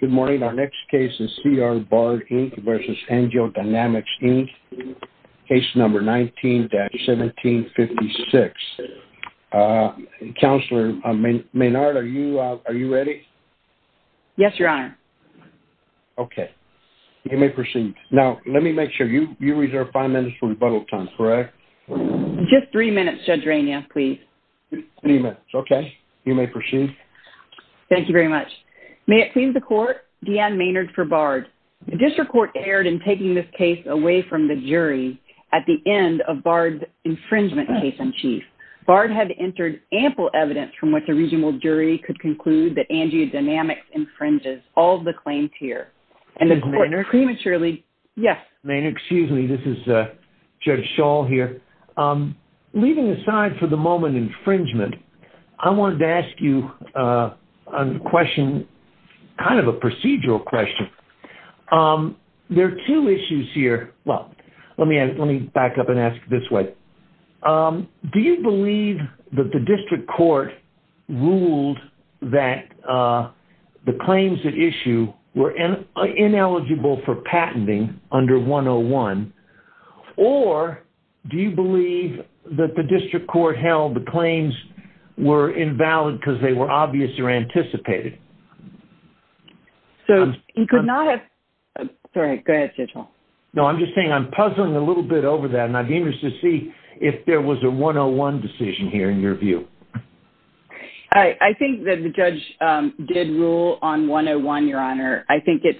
Good morning. Our next case is C R Bard Inc. v. AngioDynamics, Inc. Case number 19-1756. Uh, Counselor Maynard, are you, uh, are you ready? Yes, Your Honor. Okay. You may proceed. Now, let me make sure you, you reserve five minutes for rebuttal time, correct? Just three minutes, Judge Rainier, please. Three minutes, okay. You may proceed. Thank you very much. May it please the Court, Deanne Maynard for Bard. The District Court erred in taking this case away from the jury at the end of Bard's infringement case in chief. Bard had entered ample evidence from which a regional jury could conclude that AngioDynamics infringes all of the claims here. And the Court prematurely... Maynard? Yes. Maynard, excuse me. This is, uh, Judge Schall here. Um, leaving aside for the moment infringement, I wanted to ask you a question, kind of a procedural question. Um, there are two issues here. Well, let me, let me back up and ask this way. Um, do you believe that the District Court ruled that, uh, the claims at issue were ineligible for patenting under 101? Or do you believe that the District Court held the claims were invalid because they were obvious or anticipated? So, you could not have... Sorry, go ahead, Judge Schall. No, I'm just saying I'm puzzling a little bit over that, and I'd be interested to see if there was a 101 decision here in your view. I, I think that the judge, um, did rule on 101, Your Honor. I think it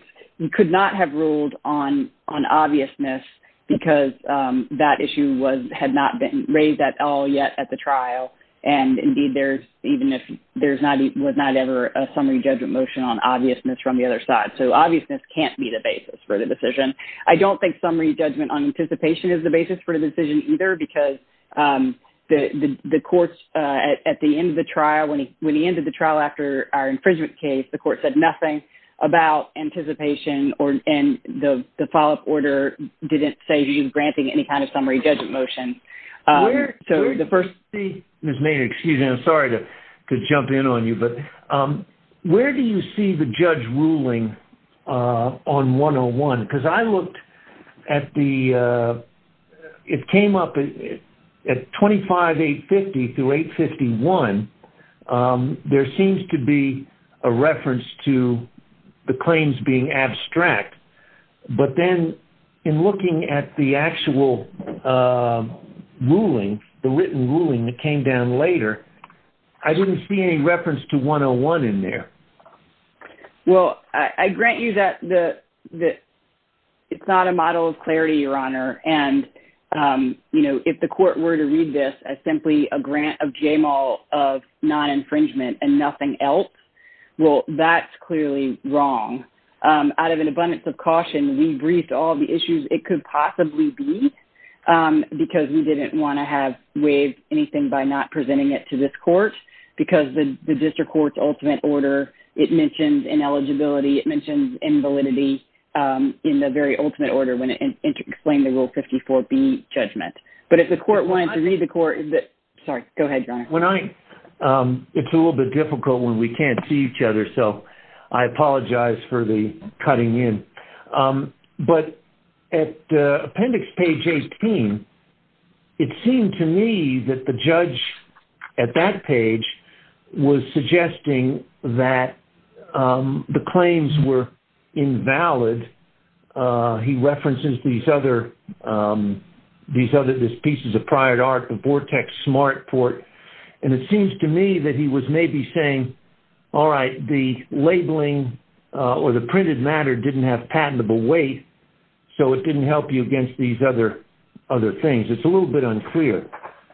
could not have ruled on, on obviousness because, um, that issue was, had not been raised at all yet at the trial. And, indeed, there's, even if there's not, was not ever a summary judgment motion on obviousness from the other side. So, obviousness can't be the basis for the decision. I don't think summary judgment on anticipation is the basis for the decision either because, um, the, the, the courts, uh, at, at the end of the trial, when he, when he ended the trial after our infringement case, the court said nothing about anticipation or, and the, the follow-up order didn't say he was granting any kind of summary judgment motion. Um, so the first... Ms. Maynard, excuse me, I'm sorry to, to jump in on you, but, um, where do you see the judge ruling, uh, on 101? Because I looked at the, uh, it came up at 25850 through 851. Um, there seems to be a reference to the claims being abstract, but then in looking at the actual, um, ruling, the written ruling that came down later, I didn't see any reference to 101 in there. Well, I, I grant you that the, the, it's not a model of clarity, Your Honor, and, um, you know, if the court were to read this as simply a grant of JMAL of non-infringement and nothing else, well, that's clearly wrong. Um, out of an abundance of caution, we briefed all the issues it could possibly be, um, because we didn't want to have waived anything by not presenting it to this court, because the, the district court's ultimate order, it mentions ineligibility, it mentions invalidity, um, in the very ultimate order when it explained the Rule 54B judgment. But if the court wanted to read the court... I... Um, it's a little bit difficult when we can't see each other, so I apologize for the cutting in. Um, but at, uh, appendix page 18, it seemed to me that the judge at that page was suggesting that, um, the claims were invalid. Uh, he references these other, um, these other, these pieces of prior art, the Vortex Smart Port, and it seems to me that he was maybe saying, all right, the labeling, uh, or the printed matter didn't have patentable weight, so it didn't help you against these other, other things. It's a little bit unclear,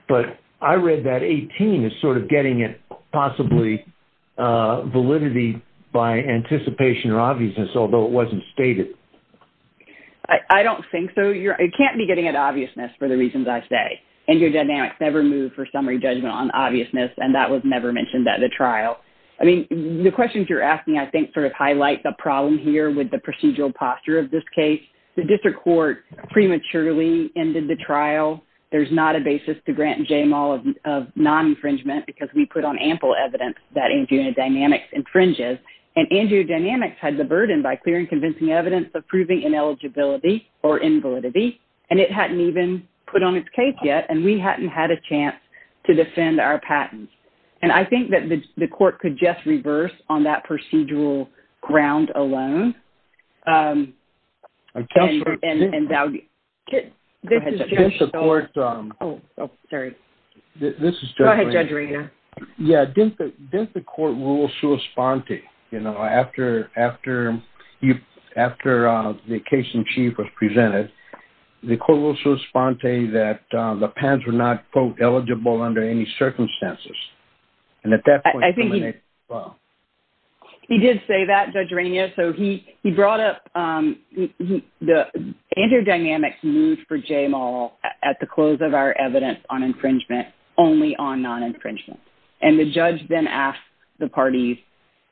but I read that 18 is sort of getting at possibly, uh, validity by anticipation or obviousness, although it wasn't stated. I, I don't think so. You're... It can't be getting at obviousness for the reasons I say. AngioDynamics never moved for summary judgment on obviousness, and that was never mentioned at the trial. I mean, the questions you're asking, I think, sort of highlight the problem here with the procedural posture of this case. The district court prematurely ended the trial. There's not a basis to grant JMAL of, of non-infringement because we put on ample evidence that AngioDynamics infringes, and AngioDynamics had the burden by clearing convincing evidence of proving ineligibility or invalidity, and it hadn't even put on its case yet, and we hadn't had a chance to defend our patent. And I think that the, the court could just reverse on that procedural ground alone, um, and, and, and... Go ahead, Judge. This is Judge... Oh, sorry. This is Judge... Go ahead, Judge Regan. Yeah, didn't the, didn't the court rule sui sponte? You know, after, after you, after, um, the case in chief was presented, the court ruled sui sponte that, um, the patents were not, quote, eligible under any circumstances. And at that point... I think he... Well... He did say that, Judge Regan. Yeah, so he, he brought up, um, he, he, the, AngioDynamics moved for JMAL at the close of our evidence on infringement only on non-infringement. And the judge then asked the parties,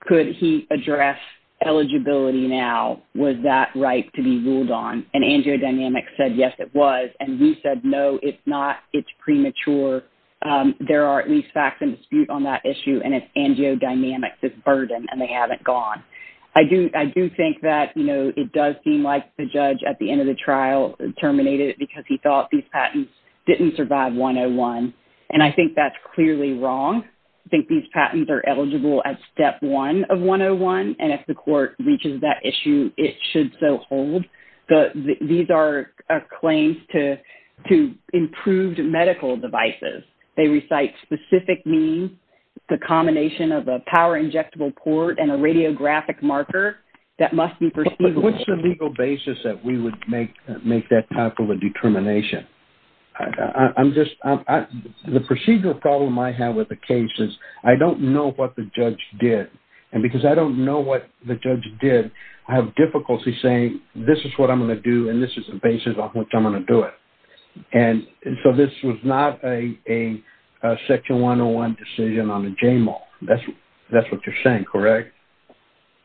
could he address eligibility now? Was that right to be ruled on? And AngioDynamics said, yes, it was. And we said, no, it's not. It's premature. Um, there are at least facts in dispute on that issue, and it's AngioDynamics' burden, and they haven't gone. I do, I do think that, you know, it does seem like the judge at the end of the trial terminated it because he thought these patents didn't survive 101. And I think that's clearly wrong. I think these patents are eligible at step one of 101, and if the court reaches that issue, it should so hold. These are claims to, to improved medical devices. They recite specific means, the combination of a power injectable port and a radiographic marker that must be perceivable. But what's the legal basis that we would make, make that type of a determination? I'm just, I'm, I, the procedural problem I have with the case is I don't know what the judge did. And because I don't know what the judge did, I have difficulty saying, this is what I'm going to do, and this is the basis on which I'm going to do it. And so this was not a, a, a section 101 decision on the JMAL. That's, that's what you're saying, correct?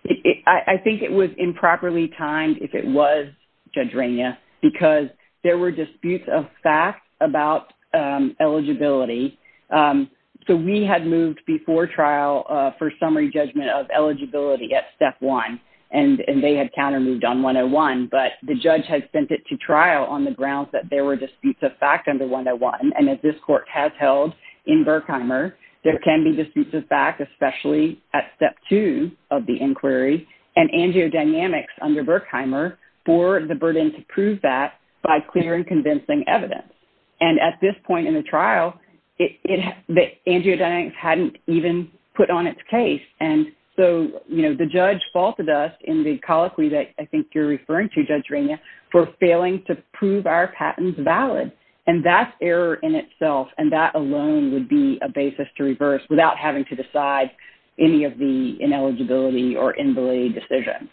It, it, I, I think it was improperly timed if it was, Judge Rainier, because there were disputes of fact about, um, eligibility. Um, so we had moved before trial, uh, for summary judgment of eligibility at step one. And, and they had counter moved on 101, but the judge had sent it to trial on the grounds that there were disputes of fact under 101. And as this court has held in Berkheimer, there can be disputes of fact, especially at step two of the inquiry, and angiodynamics under Berkheimer for the burden to prove that by clear and convincing evidence. And at this point in the trial, it, it, the angiodynamics hadn't even put on its case. And so, you know, the judge faulted us in the colloquy that I think you're referring to, Judge Rainier, for failing to prove our patents valid. And that's error in itself, and that alone would be a basis to reverse without having to decide any of the ineligibility or invalid decision.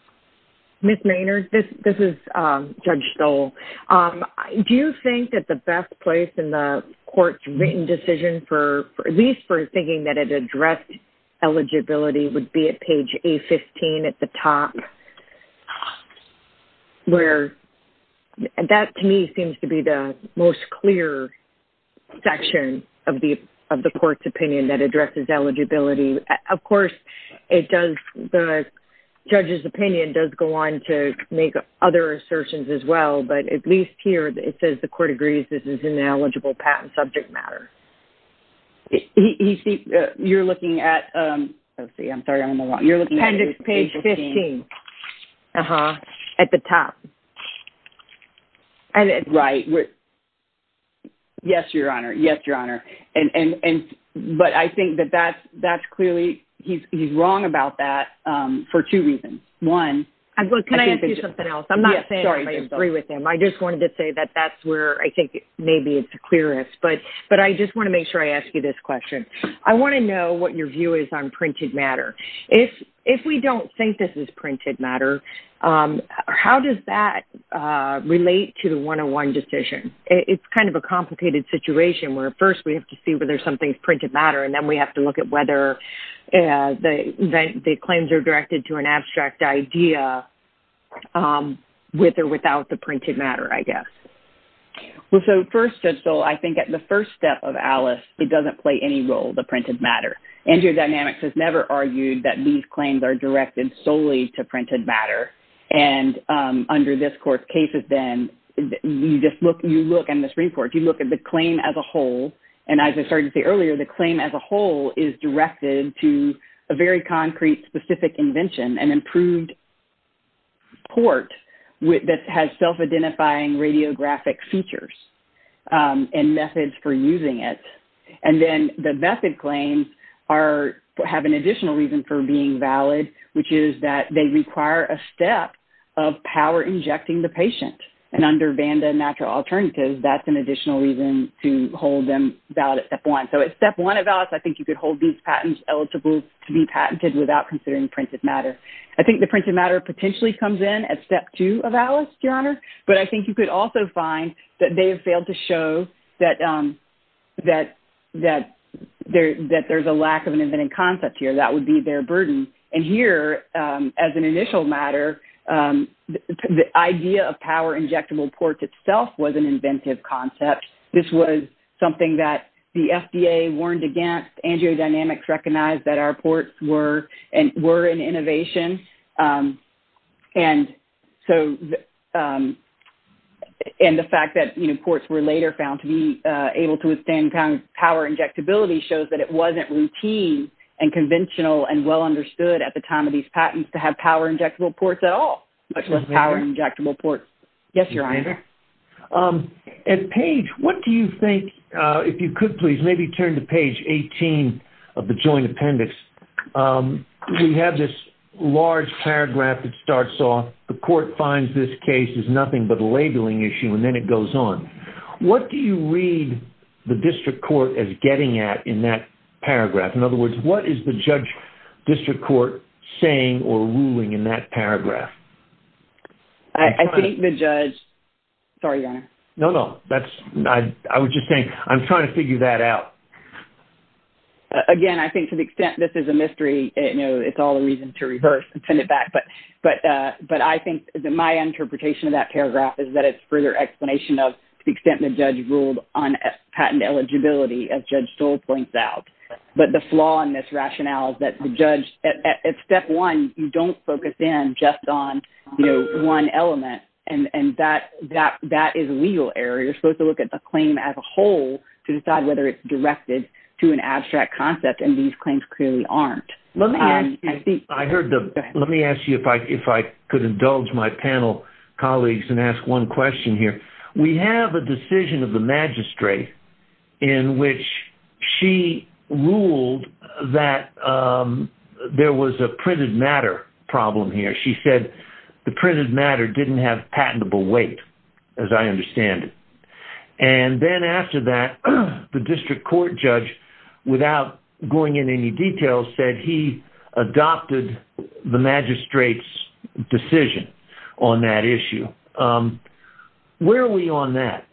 Ms. Maynard, this, this is, um, Judge Stoll. Um, do you think that the best place in the court's written decision for, at least for thinking that it addressed eligibility, would be at page A15 at the top? Where, that to me seems to be the most clear section of the, of the court's opinion that addresses eligibility. Of course, it does, the judge's opinion does go on to make other assertions as well, but at least here, it says the court agrees this is an ineligible patent subject matter. He, he, you're looking at, um, let's see, I'm sorry, I'm on the wrong, you're looking at page 15. Uh-huh, at the top. Right, we're, yes, Your Honor, yes, Your Honor. And, and, and, but I think that that's, that's clearly, he's, he's wrong about that, um, for two reasons. One. Can I ask you something else? I'm not saying I agree with him. I just wanted to say that that's where I think maybe it's the clearest, but, but I just want to make sure I ask you this question. I want to know what your view is on printed matter. If, if we don't think this is printed matter, um, how does that, uh, relate to the 101 decision? It, it's kind of a complicated situation where, first, we have to see whether something's printed matter, and then we have to look at whether, uh, the, the claims are directed to an abstract idea, um, with or without the printed matter, I guess. Well, so, first, Judge Stoll, I think at the first step of Alice, it doesn't play any role, the printed matter. Angiodynamics has never argued that these claims are directed solely to printed matter. And, um, under this court's cases, then, you just look, you look in this report, you look at the claim as a whole, and as I started to say earlier, the claim as a whole is directed to a very concrete, specific invention, an improved port with, that has self-identifying radiographic features, um, and methods for using it. And then, the method claims are, have an additional reason for being valid, which is that they require a step of power injecting the patient. And under Banda Natural Alternatives, that's an additional reason to hold them valid at step one. So, at step one of Alice, I think you could hold these patents eligible to be patented without considering printed matter. I think the printed matter potentially comes in at step two of Alice, Your Honor. But I think you could also find that they have failed to show that, um, that, that there, that there's a lack of an inventive concept here. That would be their burden. And here, um, as an initial matter, um, the idea of power injectable ports itself was an inventive concept. This was something that the FDA warned against. AngioDynamics recognized that our ports were, were an innovation. Um, and so, um, and the fact that, you know, ports were later found to be, uh, able to withstand power injectability shows that it wasn't routine and conventional and well understood at the time of these patents to have power injectable ports at all, much less power injectable ports. Yes, Your Honor. Um, and Paige, what do you think, uh, if you could please maybe turn to page 18 of the joint appendix. Um, we have this large paragraph that starts off, the court finds this case is nothing but a labeling issue, and then it goes on. What do you read the district court as getting at in that paragraph? In other words, what is the judge district court saying or ruling in that paragraph? I think the judge, sorry, Your Honor. No, no, that's, I, I was just saying, I'm trying to figure that out. Again, I think to the extent this is a mystery, it, you know, it's all a reason to reverse and send it back. But, but, uh, but I think that my interpretation of that paragraph is that it's further explanation of the extent the judge ruled on patent eligibility as Judge Stoll points out. But the flaw in this rationale is that the judge, at step one, you don't focus in just on, you know, one element. And, and that, that, that is a legal error. You're supposed to look at the claim as a whole to decide whether it's directed to an abstract concept. And these claims clearly aren't. Let me ask you, I heard the, let me ask you if I, if I could indulge my panel colleagues and ask one question here. We have a decision of the magistrate in which she ruled that, um, there was a printed matter problem here. She said the printed matter didn't have patentable weight, as I understand it. And then after that, the district court judge, without going in any detail, said he adopted the magistrate's decision on that issue. Um, where are we on that?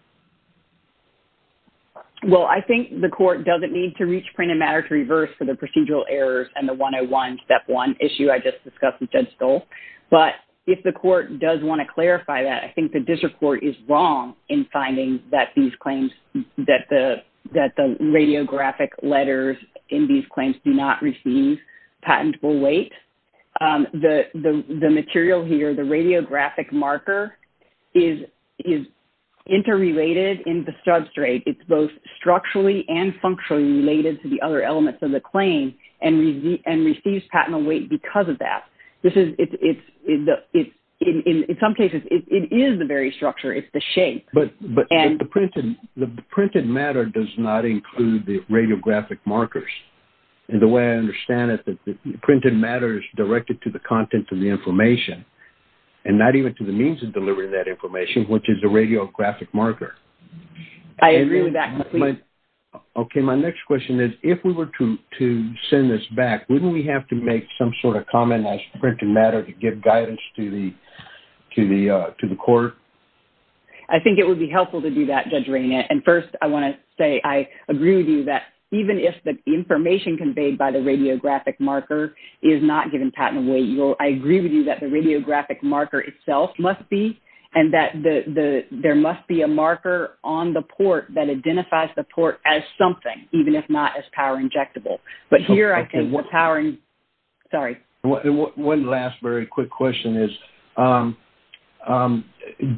Well, I think the court doesn't need to reach printed matter to reverse for the procedural errors and the 101 step one issue I just discussed with Judge Stoll. But if the court does want to clarify that, I think the district court is wrong in finding that these claims, that the, that the radiographic letters in these claims do not receive patentable weight. Um, the, the, the material here, the radiographic marker is, is interrelated in the substrate. It's both structurally and functionally related to the other elements of the claim and receive, and receives patentable weight because of that. This is, it's, it's, it's, in, in, in some cases it is the very structure, it's the shape. But, but the printed, the printed matter does not include the radiographic markers. And the way I understand it, that the printed matter is directed to the content of the information and not even to the means of delivering that information, which is a radiographic marker. I agree with that completely. Okay, my next question is, if we were to, to send this back, wouldn't we have to make some sort of comment as printed matter to give guidance to the, to the, uh, to the court? I think it would be helpful to do that, Judge Reina. And first, I want to say, I agree with you that even if the information conveyed by the radiographic marker is not given patentable weight, you will, I agree with you that the radiographic marker itself must be, and that the, the, there must be a marker on the port that identifies the port as something, even if not as power injectable. But here, I think the power, sorry. One last very quick question is, um, um,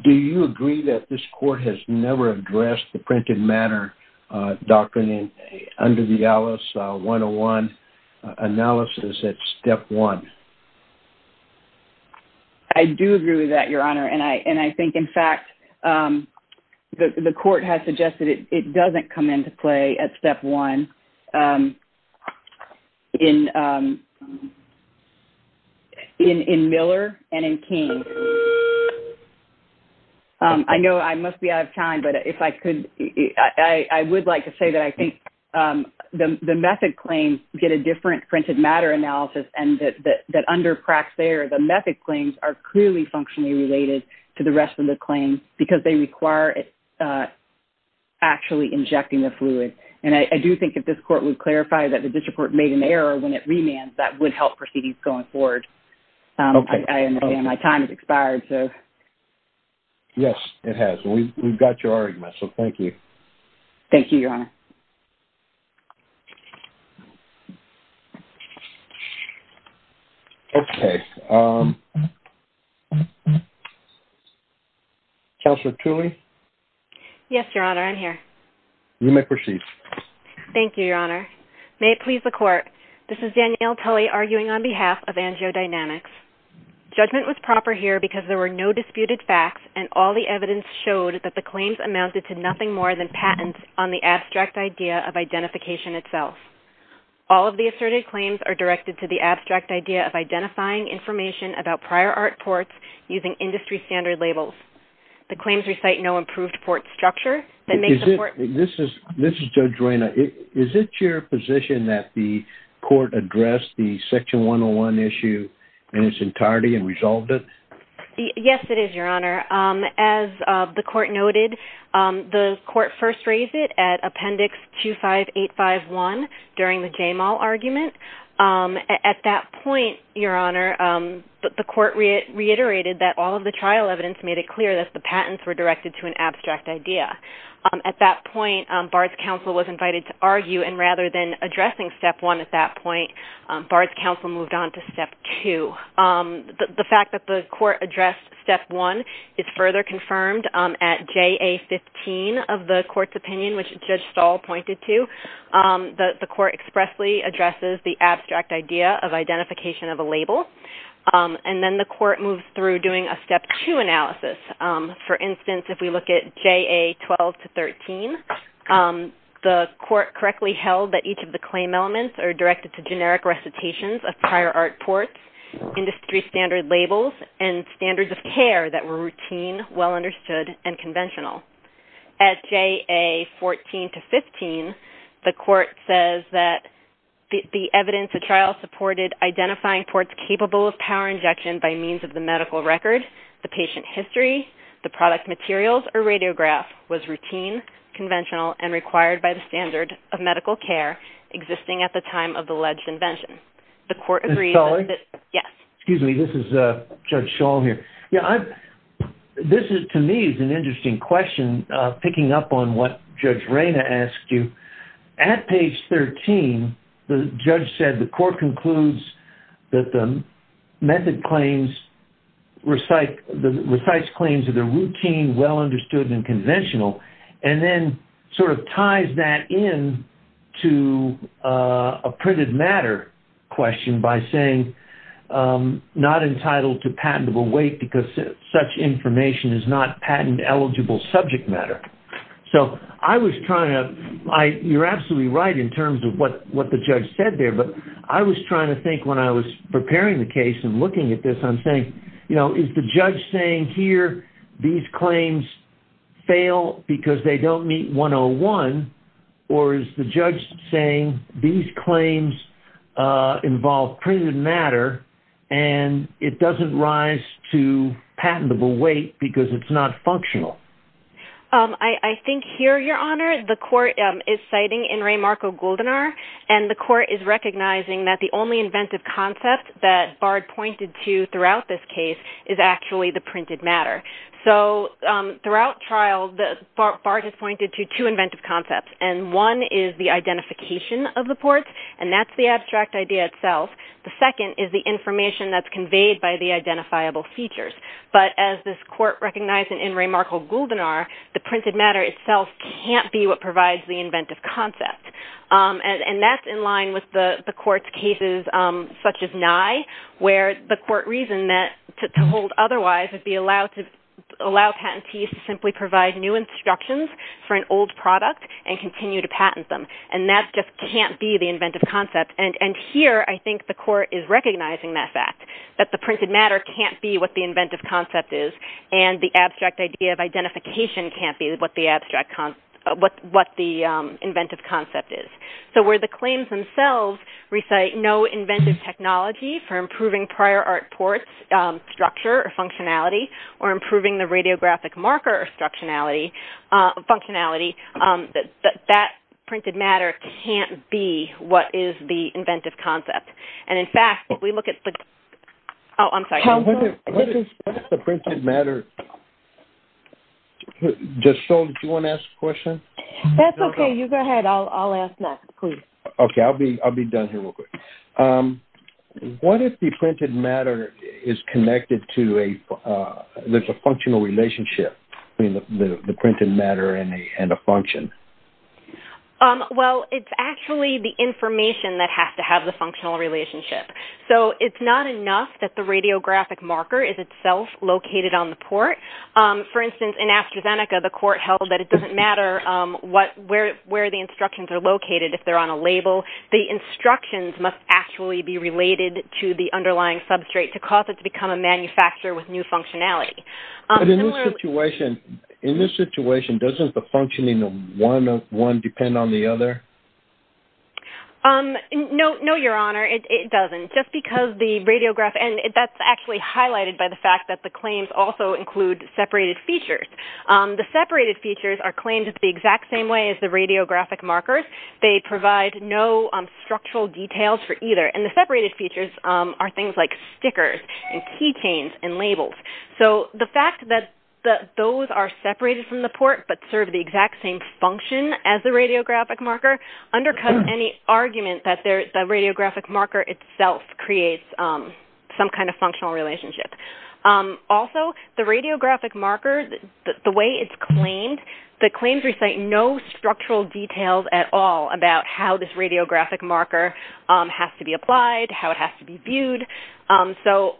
do you agree that this court has never addressed the printed matter, uh, doctrine under the ALICE 101 analysis at step one? I do agree with that, Your Honor. And I, and I think, in fact, um, the, the court has suggested it, it doesn't come into play at step one, um, in, um, in, in Miller and in King. Um, I know I must be out of time, but if I could, I, I would like to say that I think, um, the, the method claims get a different printed matter analysis, and that, that, that under cracks there, the method claims are clearly functionally related to the rest of the claims, because they require, uh, actually injecting the fluid. And I, I do think if this court would clarify that the district court made an error when it remands, that would help proceedings going forward. Um, I, I, and again, my time has expired, so. Yes, it has, and we, we've got your argument, so thank you. Thank you, Your Honor. Okay, um. Counselor Tooley? Yes, Your Honor, I'm here. You may proceed. Thank you, Your Honor. May it please the court, this is Danielle Tooley arguing on behalf of AngioDynamics. Judgment was proper here because there were no disputed facts, and all the evidence showed that the claims amounted to nothing more than patents on the abstract idea of identification itself. All of the asserted claims are directed to the abstract idea of identifying information about prior art ports using industry standard labels. The claims recite no improved port structure. Is it, this is, this is Judge Reyna. Is it your position that the court addressed the Section 101 issue in its entirety and resolved it? Yes, it is, Your Honor. Um, as, uh, the court noted, um, the court first raised it at Appendix 25851 during the Jamal argument. Um, at that point, Your Honor, um, the court reiterated that all of the trial evidence made it clear that the patents were directed to an abstract idea. Um, at that point, um, Bard's counsel was invited to argue, and rather than addressing Step 1 at that point, um, Bard's counsel moved on to Step 2. Um, the, the fact that the court addressed Step 1 is further confirmed, um, at JA 15 of the court's opinion, which Judge Stahl pointed to. Um, the, the court expressly addresses the abstract idea of identification of a label. Um, and then the court moves through doing a Step 2 analysis. Um, for instance, if we look at JA 12 to 13, um, the court correctly held that each of the claim elements are directed to generic recitations of prior art ports, industry standard labels, and standards of care that were routine, well understood, and conventional. At JA 14 to 15, the court says that the, the evidence of trial supported identifying ports capable of power injection by means of the medical record, the patient history, the product materials, or radiograph was routine, conventional, and required by the standard of medical care existing at the time of the alleged invention. Ms. Sullivan? Yes. Excuse me, this is, uh, Judge Stahl here. Yeah, I, this is, to me, is an interesting question, uh, picking up on what Judge Reyna asked you. At page 13, the judge said the court concludes that the method claims recite, recites claims that are routine, well understood, and conventional, and then sort of ties that in to, uh, a printed matter question by saying, um, not entitled to patentable weight because such information is not patent eligible subject matter. So, I was trying to, I, you're absolutely right in terms of what, what the judge said there, but I was trying to think when I was preparing the case and looking at this, I'm saying, you know, is the judge saying here, these claims fail because they don't meet 101, or is the judge saying these claims, uh, involve printed matter and it doesn't rise to patentable weight because it's not functional? Um, I, I think here, Your Honor, the court, um, is citing In re Marco Goldenar, and the court is recognizing that the only inventive concept that Bard pointed to throughout this case is actually the printed matter. So, um, throughout trial, Bard has pointed to two inventive concepts, and one is the identification of the ports, and that's the abstract idea itself. The second is the information that's conveyed by the identifiable features. But as this court recognized in In re Marco Goldenar, the printed matter itself can't be what provides the inventive concept. Um, and, and that's in line with the, the court's cases, um, such as Nye, where the court reasoned that to, to hold otherwise would be allowed to allow patentees to simply provide new instructions for an old product and continue to patent them. And that just can't be the inventive concept. And, and here, I think the court is recognizing that fact, that the printed matter can't be what the inventive concept is, and the abstract idea of identification can't be what the abstract, what, what the, um, inventive concept is. So, where the claims themselves recite no inventive technology for improving prior art ports, um, structure or functionality, or improving the radiographic marker or structurality, uh, functionality, um, that, that, that printed matter can't be what is the inventive concept. And, in fact, if we look at the, oh, I'm sorry. What is, what is the printed matter? Just so, do you want to ask a question? That's okay. You go ahead. I'll, I'll ask next, please. Okay. I'll be, I'll be done here real quick. Um, what if the printed matter is connected to a, uh, there's a functional relationship between the, the, the printed matter and a, and a function? Um, well, it's actually the information that has to have the functional relationship. So, it's not enough that the radiographic marker is itself located on the port. Um, for instance, in AstraZeneca, the court held that it doesn't matter, um, what, where, where the instructions are located if they're on a label. The instructions must actually be related to the underlying substrate to cause it to become a manufacturer with new functionality. But in this situation, in this situation, doesn't the functioning of one, one depend on the other? Um, no, no, Your Honor. It, it doesn't. Just because the radiographic, and that's actually highlighted by the fact that the claims also include separated features. Um, the separated features are claimed the exact same way as the radiographic markers. They provide no, um, structural details for either. And the separated features, um, are things like stickers and key chains and labels. So, the fact that those are separated from the port but serve the exact same function as the radiographic marker undercuts any argument that the radiographic marker itself creates, um, some kind of functional relationship. Um, also, the radiographic marker, the way it's claimed, the claims recite no structural details at all about how this radiographic marker, um, has to be applied, how it has to be viewed. Um, so,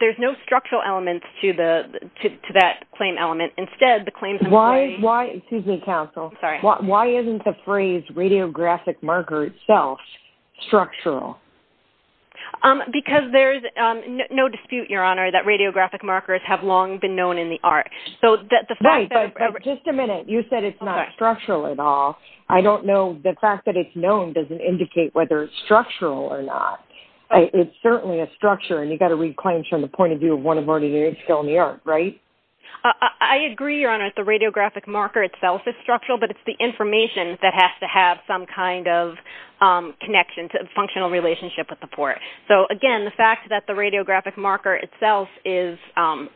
there's no structural elements to the, to that claim element. Instead, the claims... Why, why, excuse me, counsel. Sorry. Why isn't the phrase radiographic marker itself structural? Um, because there's, um, no dispute, Your Honor, that radiographic markers have long been known in the art. So, the fact that... Right, but just a minute. You said it's not structural at all. I don't know, the fact that it's known doesn't indicate whether it's structural or not. It's certainly a structure, and you've got to read claims from the point of view of one of ordinary people in the art, right? I agree, Your Honor, that the radiographic marker itself is structural, but it's the information that has to have some kind of, um, connection, functional relationship with the port. So, again, the fact that the radiographic marker itself is, um,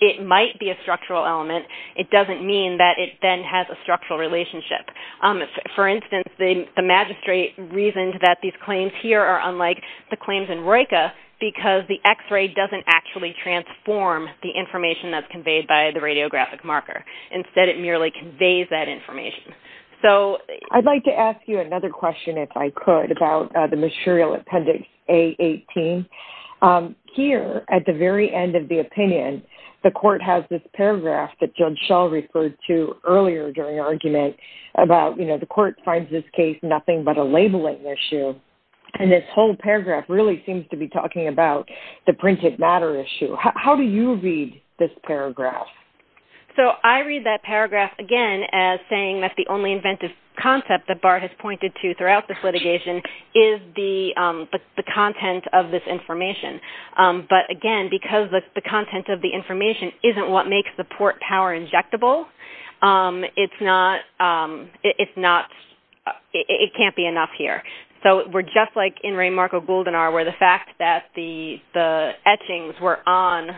it might be a structural element, it doesn't mean that it then has a structural relationship. Um, for instance, the magistrate reasoned that these claims here are unlike the claims in ROICA because the X-ray doesn't actually transform the information that's conveyed by the radiographic marker. Instead, it merely conveys that information. So... I'd like to ask you another question, if I could, about the material Appendix A-18. Um, here, at the very end of the opinion, the court has this paragraph that Judge Schall referred to earlier during argument about, you know, the court finds this case nothing but a labeling issue. And this whole paragraph really seems to be talking about the printed matter issue. How do you read this paragraph? So, I read that paragraph, again, as saying that the only inventive concept that BART has pointed to throughout this litigation is the, um, the content of this information. Um, but, again, because the content of the information isn't what makes the port power injectable, um, it's not, um, it's not, it can't be enough here. So, we're just like in Raymarco-Gouldenar where the fact that the etchings were on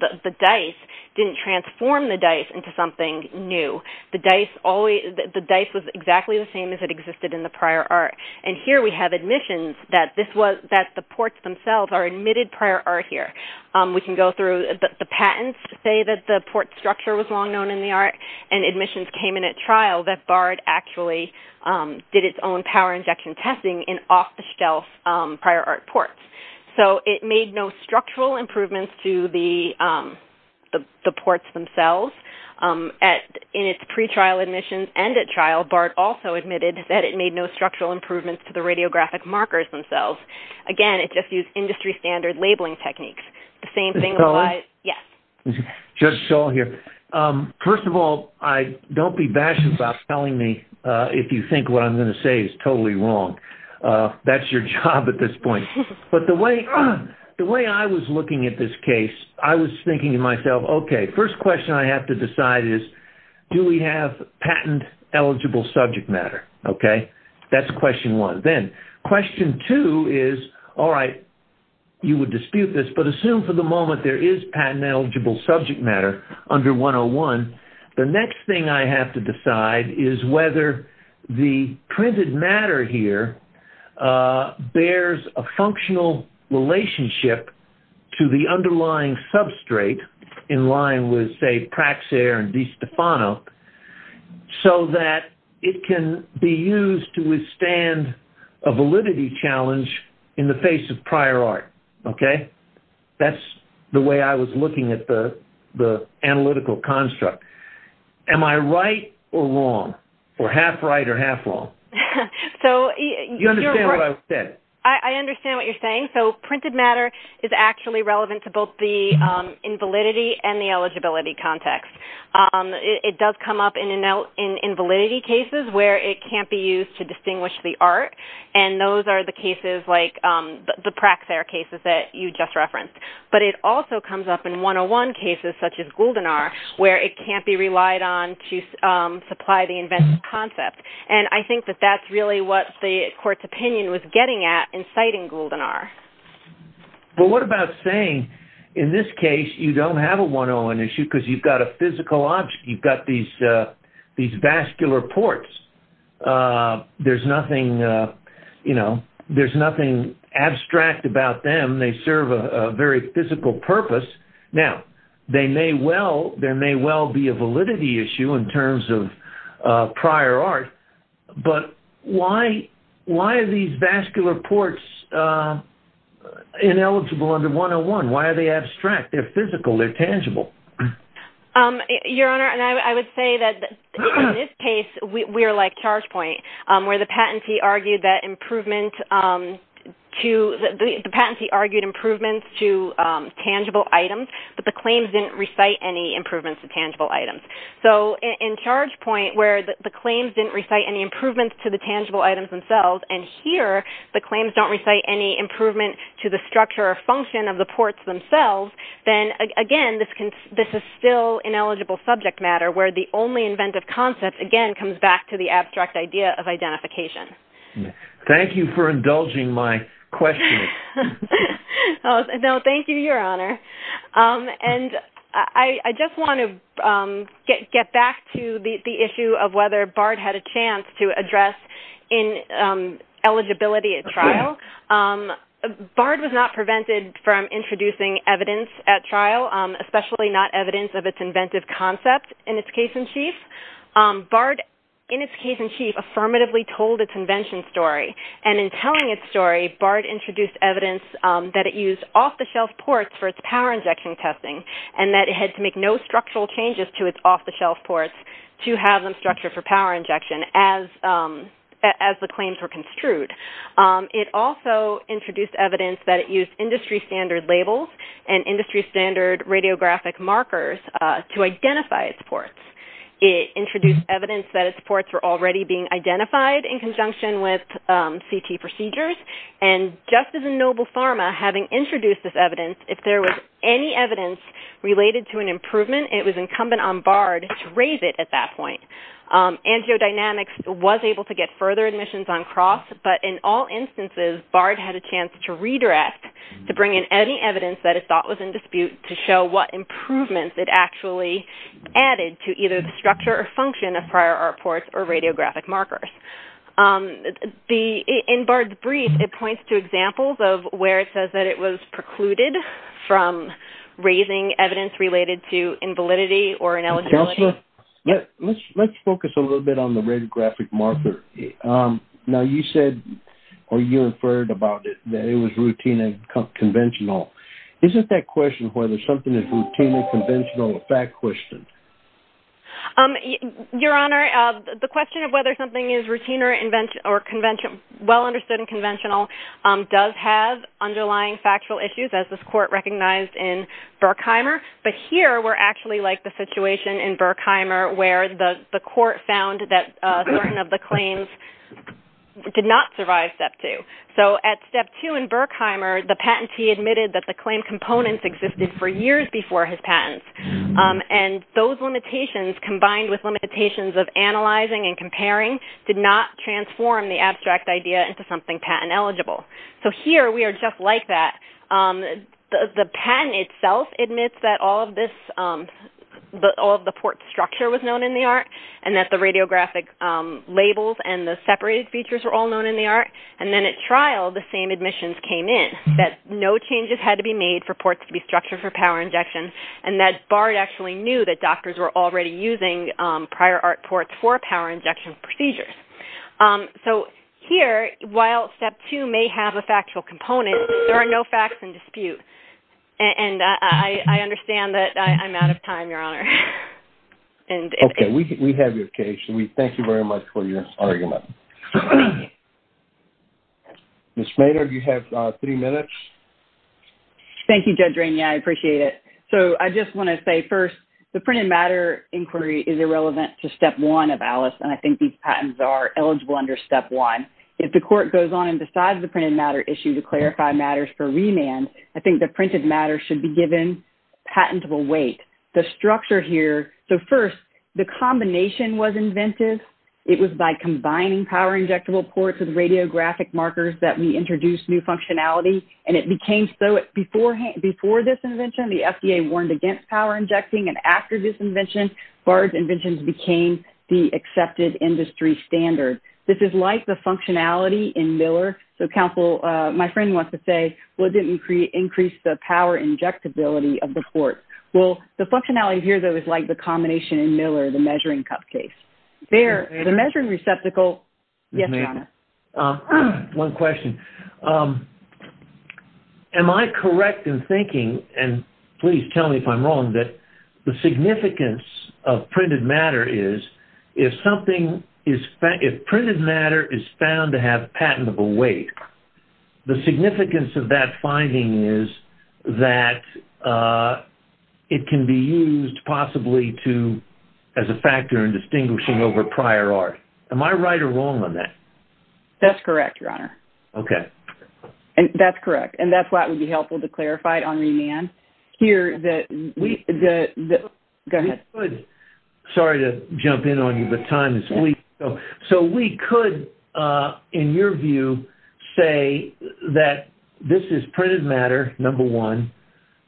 the dice didn't transform the dice into something new. The dice always, the dice was exactly the same as it existed in the prior art. And here we have admissions that this was, that the ports themselves are admitted prior art here. Um, we can go through, the patents say that the port structure was long known in the art and admissions came in at trial that BART actually, um, did its own power injection testing in off-the-shelf, um, prior art ports. So, it made no structural improvements to the, um, the ports themselves. Um, at, in its pretrial admissions and at trial, BART also admitted that it made no structural improvements to the radiographic markers themselves. Again, it just used industry standard labeling techniques. The same thing- Ms. Sullivan? Yes. Judge Sullivan here. Um, first of all, I, don't be bashful about telling me, uh, if you think what I'm going to say is totally wrong. Uh, that's your job at this point. But the way, the way I was looking at this case, I was thinking to myself, okay, first question I have to decide is, do we have patent eligible subject matter? Okay? That's question one. Then, question two is, all right, you would dispute this, but assume for the moment there is patent eligible subject matter under 101. The next thing I have to decide is whether the printed matter here, uh, bears a functional relationship to the underlying substrate in line with, say, Praxair and DiStefano, so that it can be used to withstand a validity challenge in the face of prior art. Okay? That's the way I was looking at the, the analytical construct. Am I right or wrong? Or half right or half wrong? So- You understand what I said? I, I understand what you're saying. So, printed matter is actually relevant to both the, um, invalidity and the eligibility context. Um, it, it does come up in a note, in, in validity cases where it can't be used to distinguish the art. And those are the cases like, um, the, the Praxair cases that you just referenced. But it also comes up in 101 cases such as Guldenar where it can't be relied on to, um, supply the inventive concept. And I think that that's really what the court's opinion was getting at in citing Guldenar. But what about saying, in this case, you don't have a 101 issue because you've got a physical object. You've got these, uh, these vascular ports. Uh, there's nothing, uh, you know, there's nothing abstract about them. They serve a, a very physical purpose. Now, they may well, there may well be a validity issue in terms of, uh, prior art. But why, why are these vascular ports, uh, ineligible under 101? Why are they abstract? They're physical. They're tangible. Um, your Honor, and I, I would say that in this case, we, we are like Chargepoint, um, where the patentee argued that improvement, um, to, the, the patentee argued improvements to, um, tangible items. But the claims didn't recite any improvements to tangible items. So, in, in Chargepoint, where the, the claims didn't recite any improvements to the tangible items themselves, and here, the claims don't recite any improvement to the structure or function of the ports themselves, then, again, this can, this is still ineligible subject matter, where the only inventive concept, again, comes back to the abstract idea of identification. Thank you for indulging my question. No, thank you, Your Honor. Um, and I, I just want to, um, get, get back to the, the issue of whether BARD had a chance to address ineligibility at trial. Um, BARD was not prevented from introducing evidence at trial, especially not evidence of its inventive concept in its case in chief. Um, BARD, in its case in chief, affirmatively told its invention story. And in telling its story, BARD introduced evidence, um, that it used off-the-shelf ports for its power injection testing, and that it had to make no structural changes to its off-the-shelf ports to have them structured for power injection, as, um, as the claims were construed. Um, it also introduced evidence that it used industry standard labels and industry standard radiographic markers, uh, to identify its ports. It introduced evidence that its ports were already being identified in conjunction with, um, CT procedures. And just as a noble pharma, having introduced this evidence, if there was any evidence related to an improvement, it was incumbent on BARD to raise it at that point. Um, Angiodynamics was able to get further admissions on cross, but in all instances, BARD had a chance to redress, to bring in any evidence that it thought was in dispute to show what improvements it actually added to either the structure or function of prior art ports or radiographic markers. Um, the, in BARD's brief, it points to examples of where it says that it was precluded from raising evidence related to invalidity or ineligibility. Counselor? Yeah. Let's, let's focus a little bit on the radiographic marker. Um, now you said, or you inferred about it, that it was routine and conventional. Isn't that question whether something is routine and conventional a fact question? Um, Your Honor, the question of whether something is routine or conventional, well understood and conventional, um, does have underlying factual issues as this court recognized in Berkheimer. But here, we're actually like the situation in Berkheimer where the court found that certain of the claims did not survive step two. So at step two in Berkheimer, the patentee admitted that the claim components existed for years before his patents. Um, and those limitations combined with limitations of analyzing and comparing did not transform the abstract idea into something patent eligible. So here, we are just like that. Um, the, the patent itself admits that all of this, um, all of the port structure was known in the art and that the radiographic labels and the separated features were all known in the art. And then at trial, the same admissions came in, that no changes had to be made for ports to be structured for power injections and that Bard actually knew that doctors were already using, um, prior art ports for power injection procedures. Um, so here, while step two may have a factual component, there are no facts in dispute. And I, I understand that I'm out of time, Your Honor. Okay, we have your case. We thank you very much for your argument. Ms. Maynard, you have, uh, three minutes. Thank you, Judge Rainey. I appreciate it. So I just want to say first, the printed matter inquiry is irrelevant to step one of Alice, and I think these patents are eligible under step one. If the court goes on and decides the printed matter issue to clarify matters for remand, I think the printed matter should be given patentable weight. The structure here, so first, the combination was inventive. It was by combining power injectable ports with radiographic markers that we introduced new functionality, and it became so. Before this invention, the FDA warned against power injecting, and after this invention, Bard's inventions became the accepted industry standard. This is like the functionality in Miller. So counsel, my friend wants to say, well, it didn't increase the power injectability of the port. Well, the functionality here, though, is like the combination in Miller, the measuring cup case. There, the measuring receptacle. Yes, Your Honor. One question. Am I correct in thinking, and please tell me if I'm wrong, that the significance of printed matter is if something is found, if printed matter is found to have patentable weight, the significance of that finding is that it can be used possibly to, as a factor in distinguishing over prior art. Am I right or wrong on that? That's correct, Your Honor. Okay. That's correct, and that's why it would be helpful to clarify it on remand. Here, the, go ahead. Sorry to jump in on you, but time is fleeting. So we could, in your view, say that this is printed matter, number one,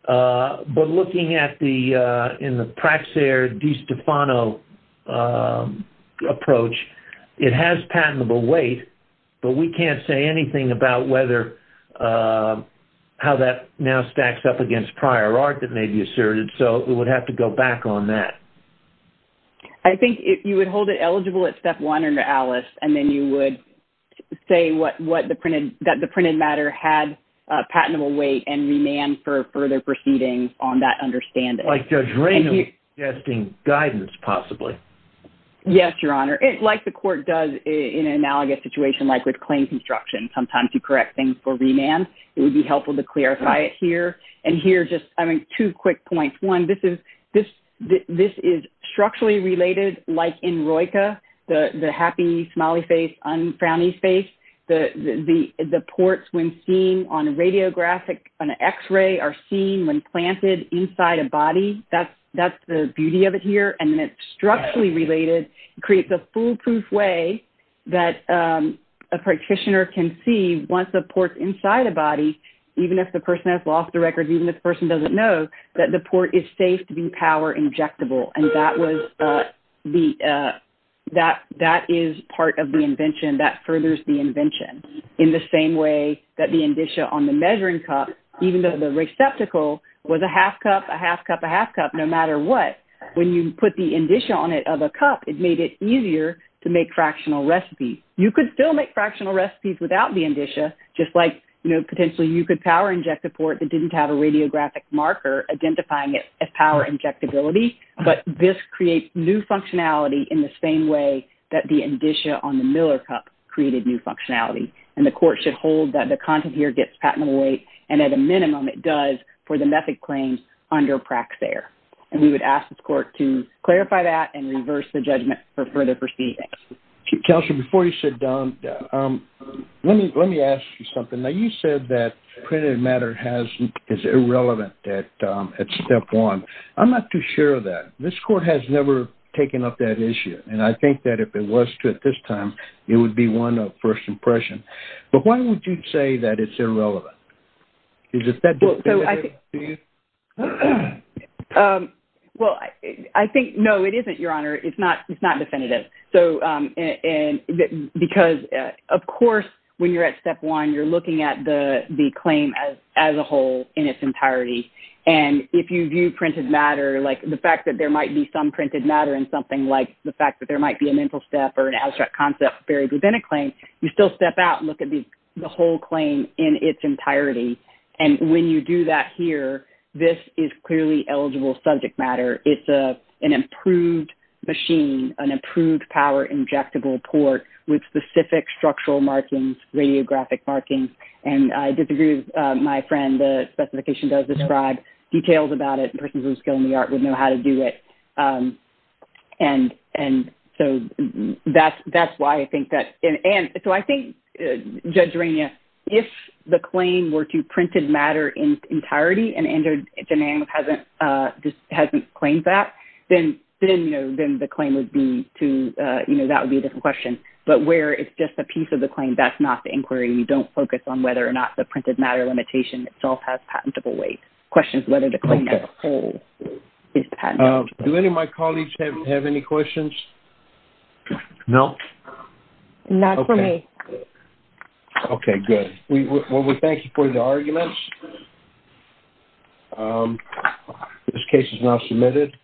but looking at the, in the Praxair DeStefano approach, it has patentable weight, but we can't say anything about whether, how that now stacks up against prior art that may be asserted, so we would have to go back on that. I think you would hold it eligible at step one under Alice, and then you would say that the printed matter had patentable weight and remand for further proceedings on that understanding. Like Judge Raymond's suggesting guidance, possibly. Yes, Your Honor. Like the court does in an analogous situation like with claim construction, sometimes you correct things for remand. It would be helpful to clarify it here. And here, just, I mean, two quick points. One, this is structurally related, like in ROICA, the happy, smiley face, unfrowny face. The ports, when seen on a radiographic, on an X-ray, are seen when planted inside a body. That's the beauty of it here. And then it's structurally related. It creates a foolproof way that a practitioner can see, once the port's inside a body, even if the person has lost the record, even if the person doesn't know, that the port is safe to be power injectable. And that was the, that is part of the invention. That furthers the invention, in the same way that the indicia on the measuring cup, even though the receptacle was a half cup, a half cup, a half cup, no matter what, when you put the indicia on it of a cup, it made it easier to make fractional recipes. You could still make fractional recipes without the indicia, just like, you know, potentially you could power inject a port that didn't have a radiographic marker, identifying it as power injectability. But this creates new functionality in the same way that the indicia on the measuring cup created new functionality. And the court should hold that the content here gets patented away. And at a minimum it does for the method claims under Praxair. And we would ask this court to clarify that and reverse the judgment for further proceedings. Counselor, before you sit down, let me, let me ask you something. Now you said that printed matter is irrelevant at step one. I'm not too sure of that. This court has never taken up that issue. And I think that if it was to, at this time, it would be one of first impression. But why would you say that it's irrelevant? Is it that definitive to you? Well, I think, no, it isn't, Your Honor. It's not, it's not definitive. So because of course, when you're at step one, you're looking at the claim as a whole in its entirety. And if you view printed matter, like the fact that there might be some printed matter in something like the fact that there might be a mental step or an abstract concept buried within a claim, you still step out and look at the whole claim in its entirety. And when you do that here, this is clearly eligible subject matter. It's an improved machine, an improved power injectable port with specific structural markings, radiographic markings. And I disagree with my friend. The specification does describe details about it. And so that's, that's why I think that. And so I think Judge Rania, if the claim were to printed matter in entirety, and Andrew Jenang just hasn't claimed that, then, then, you know, then the claim would be to, you know, that would be a different question, but where it's just a piece of the claim, that's not the inquiry. You don't focus on whether or not the printed matter limitation itself has patentable weight questions, whether the claim has a whole. Do any of my colleagues have any questions? No. Not for me. Okay, good. Well, we thank you for the arguments. This case is now submitted.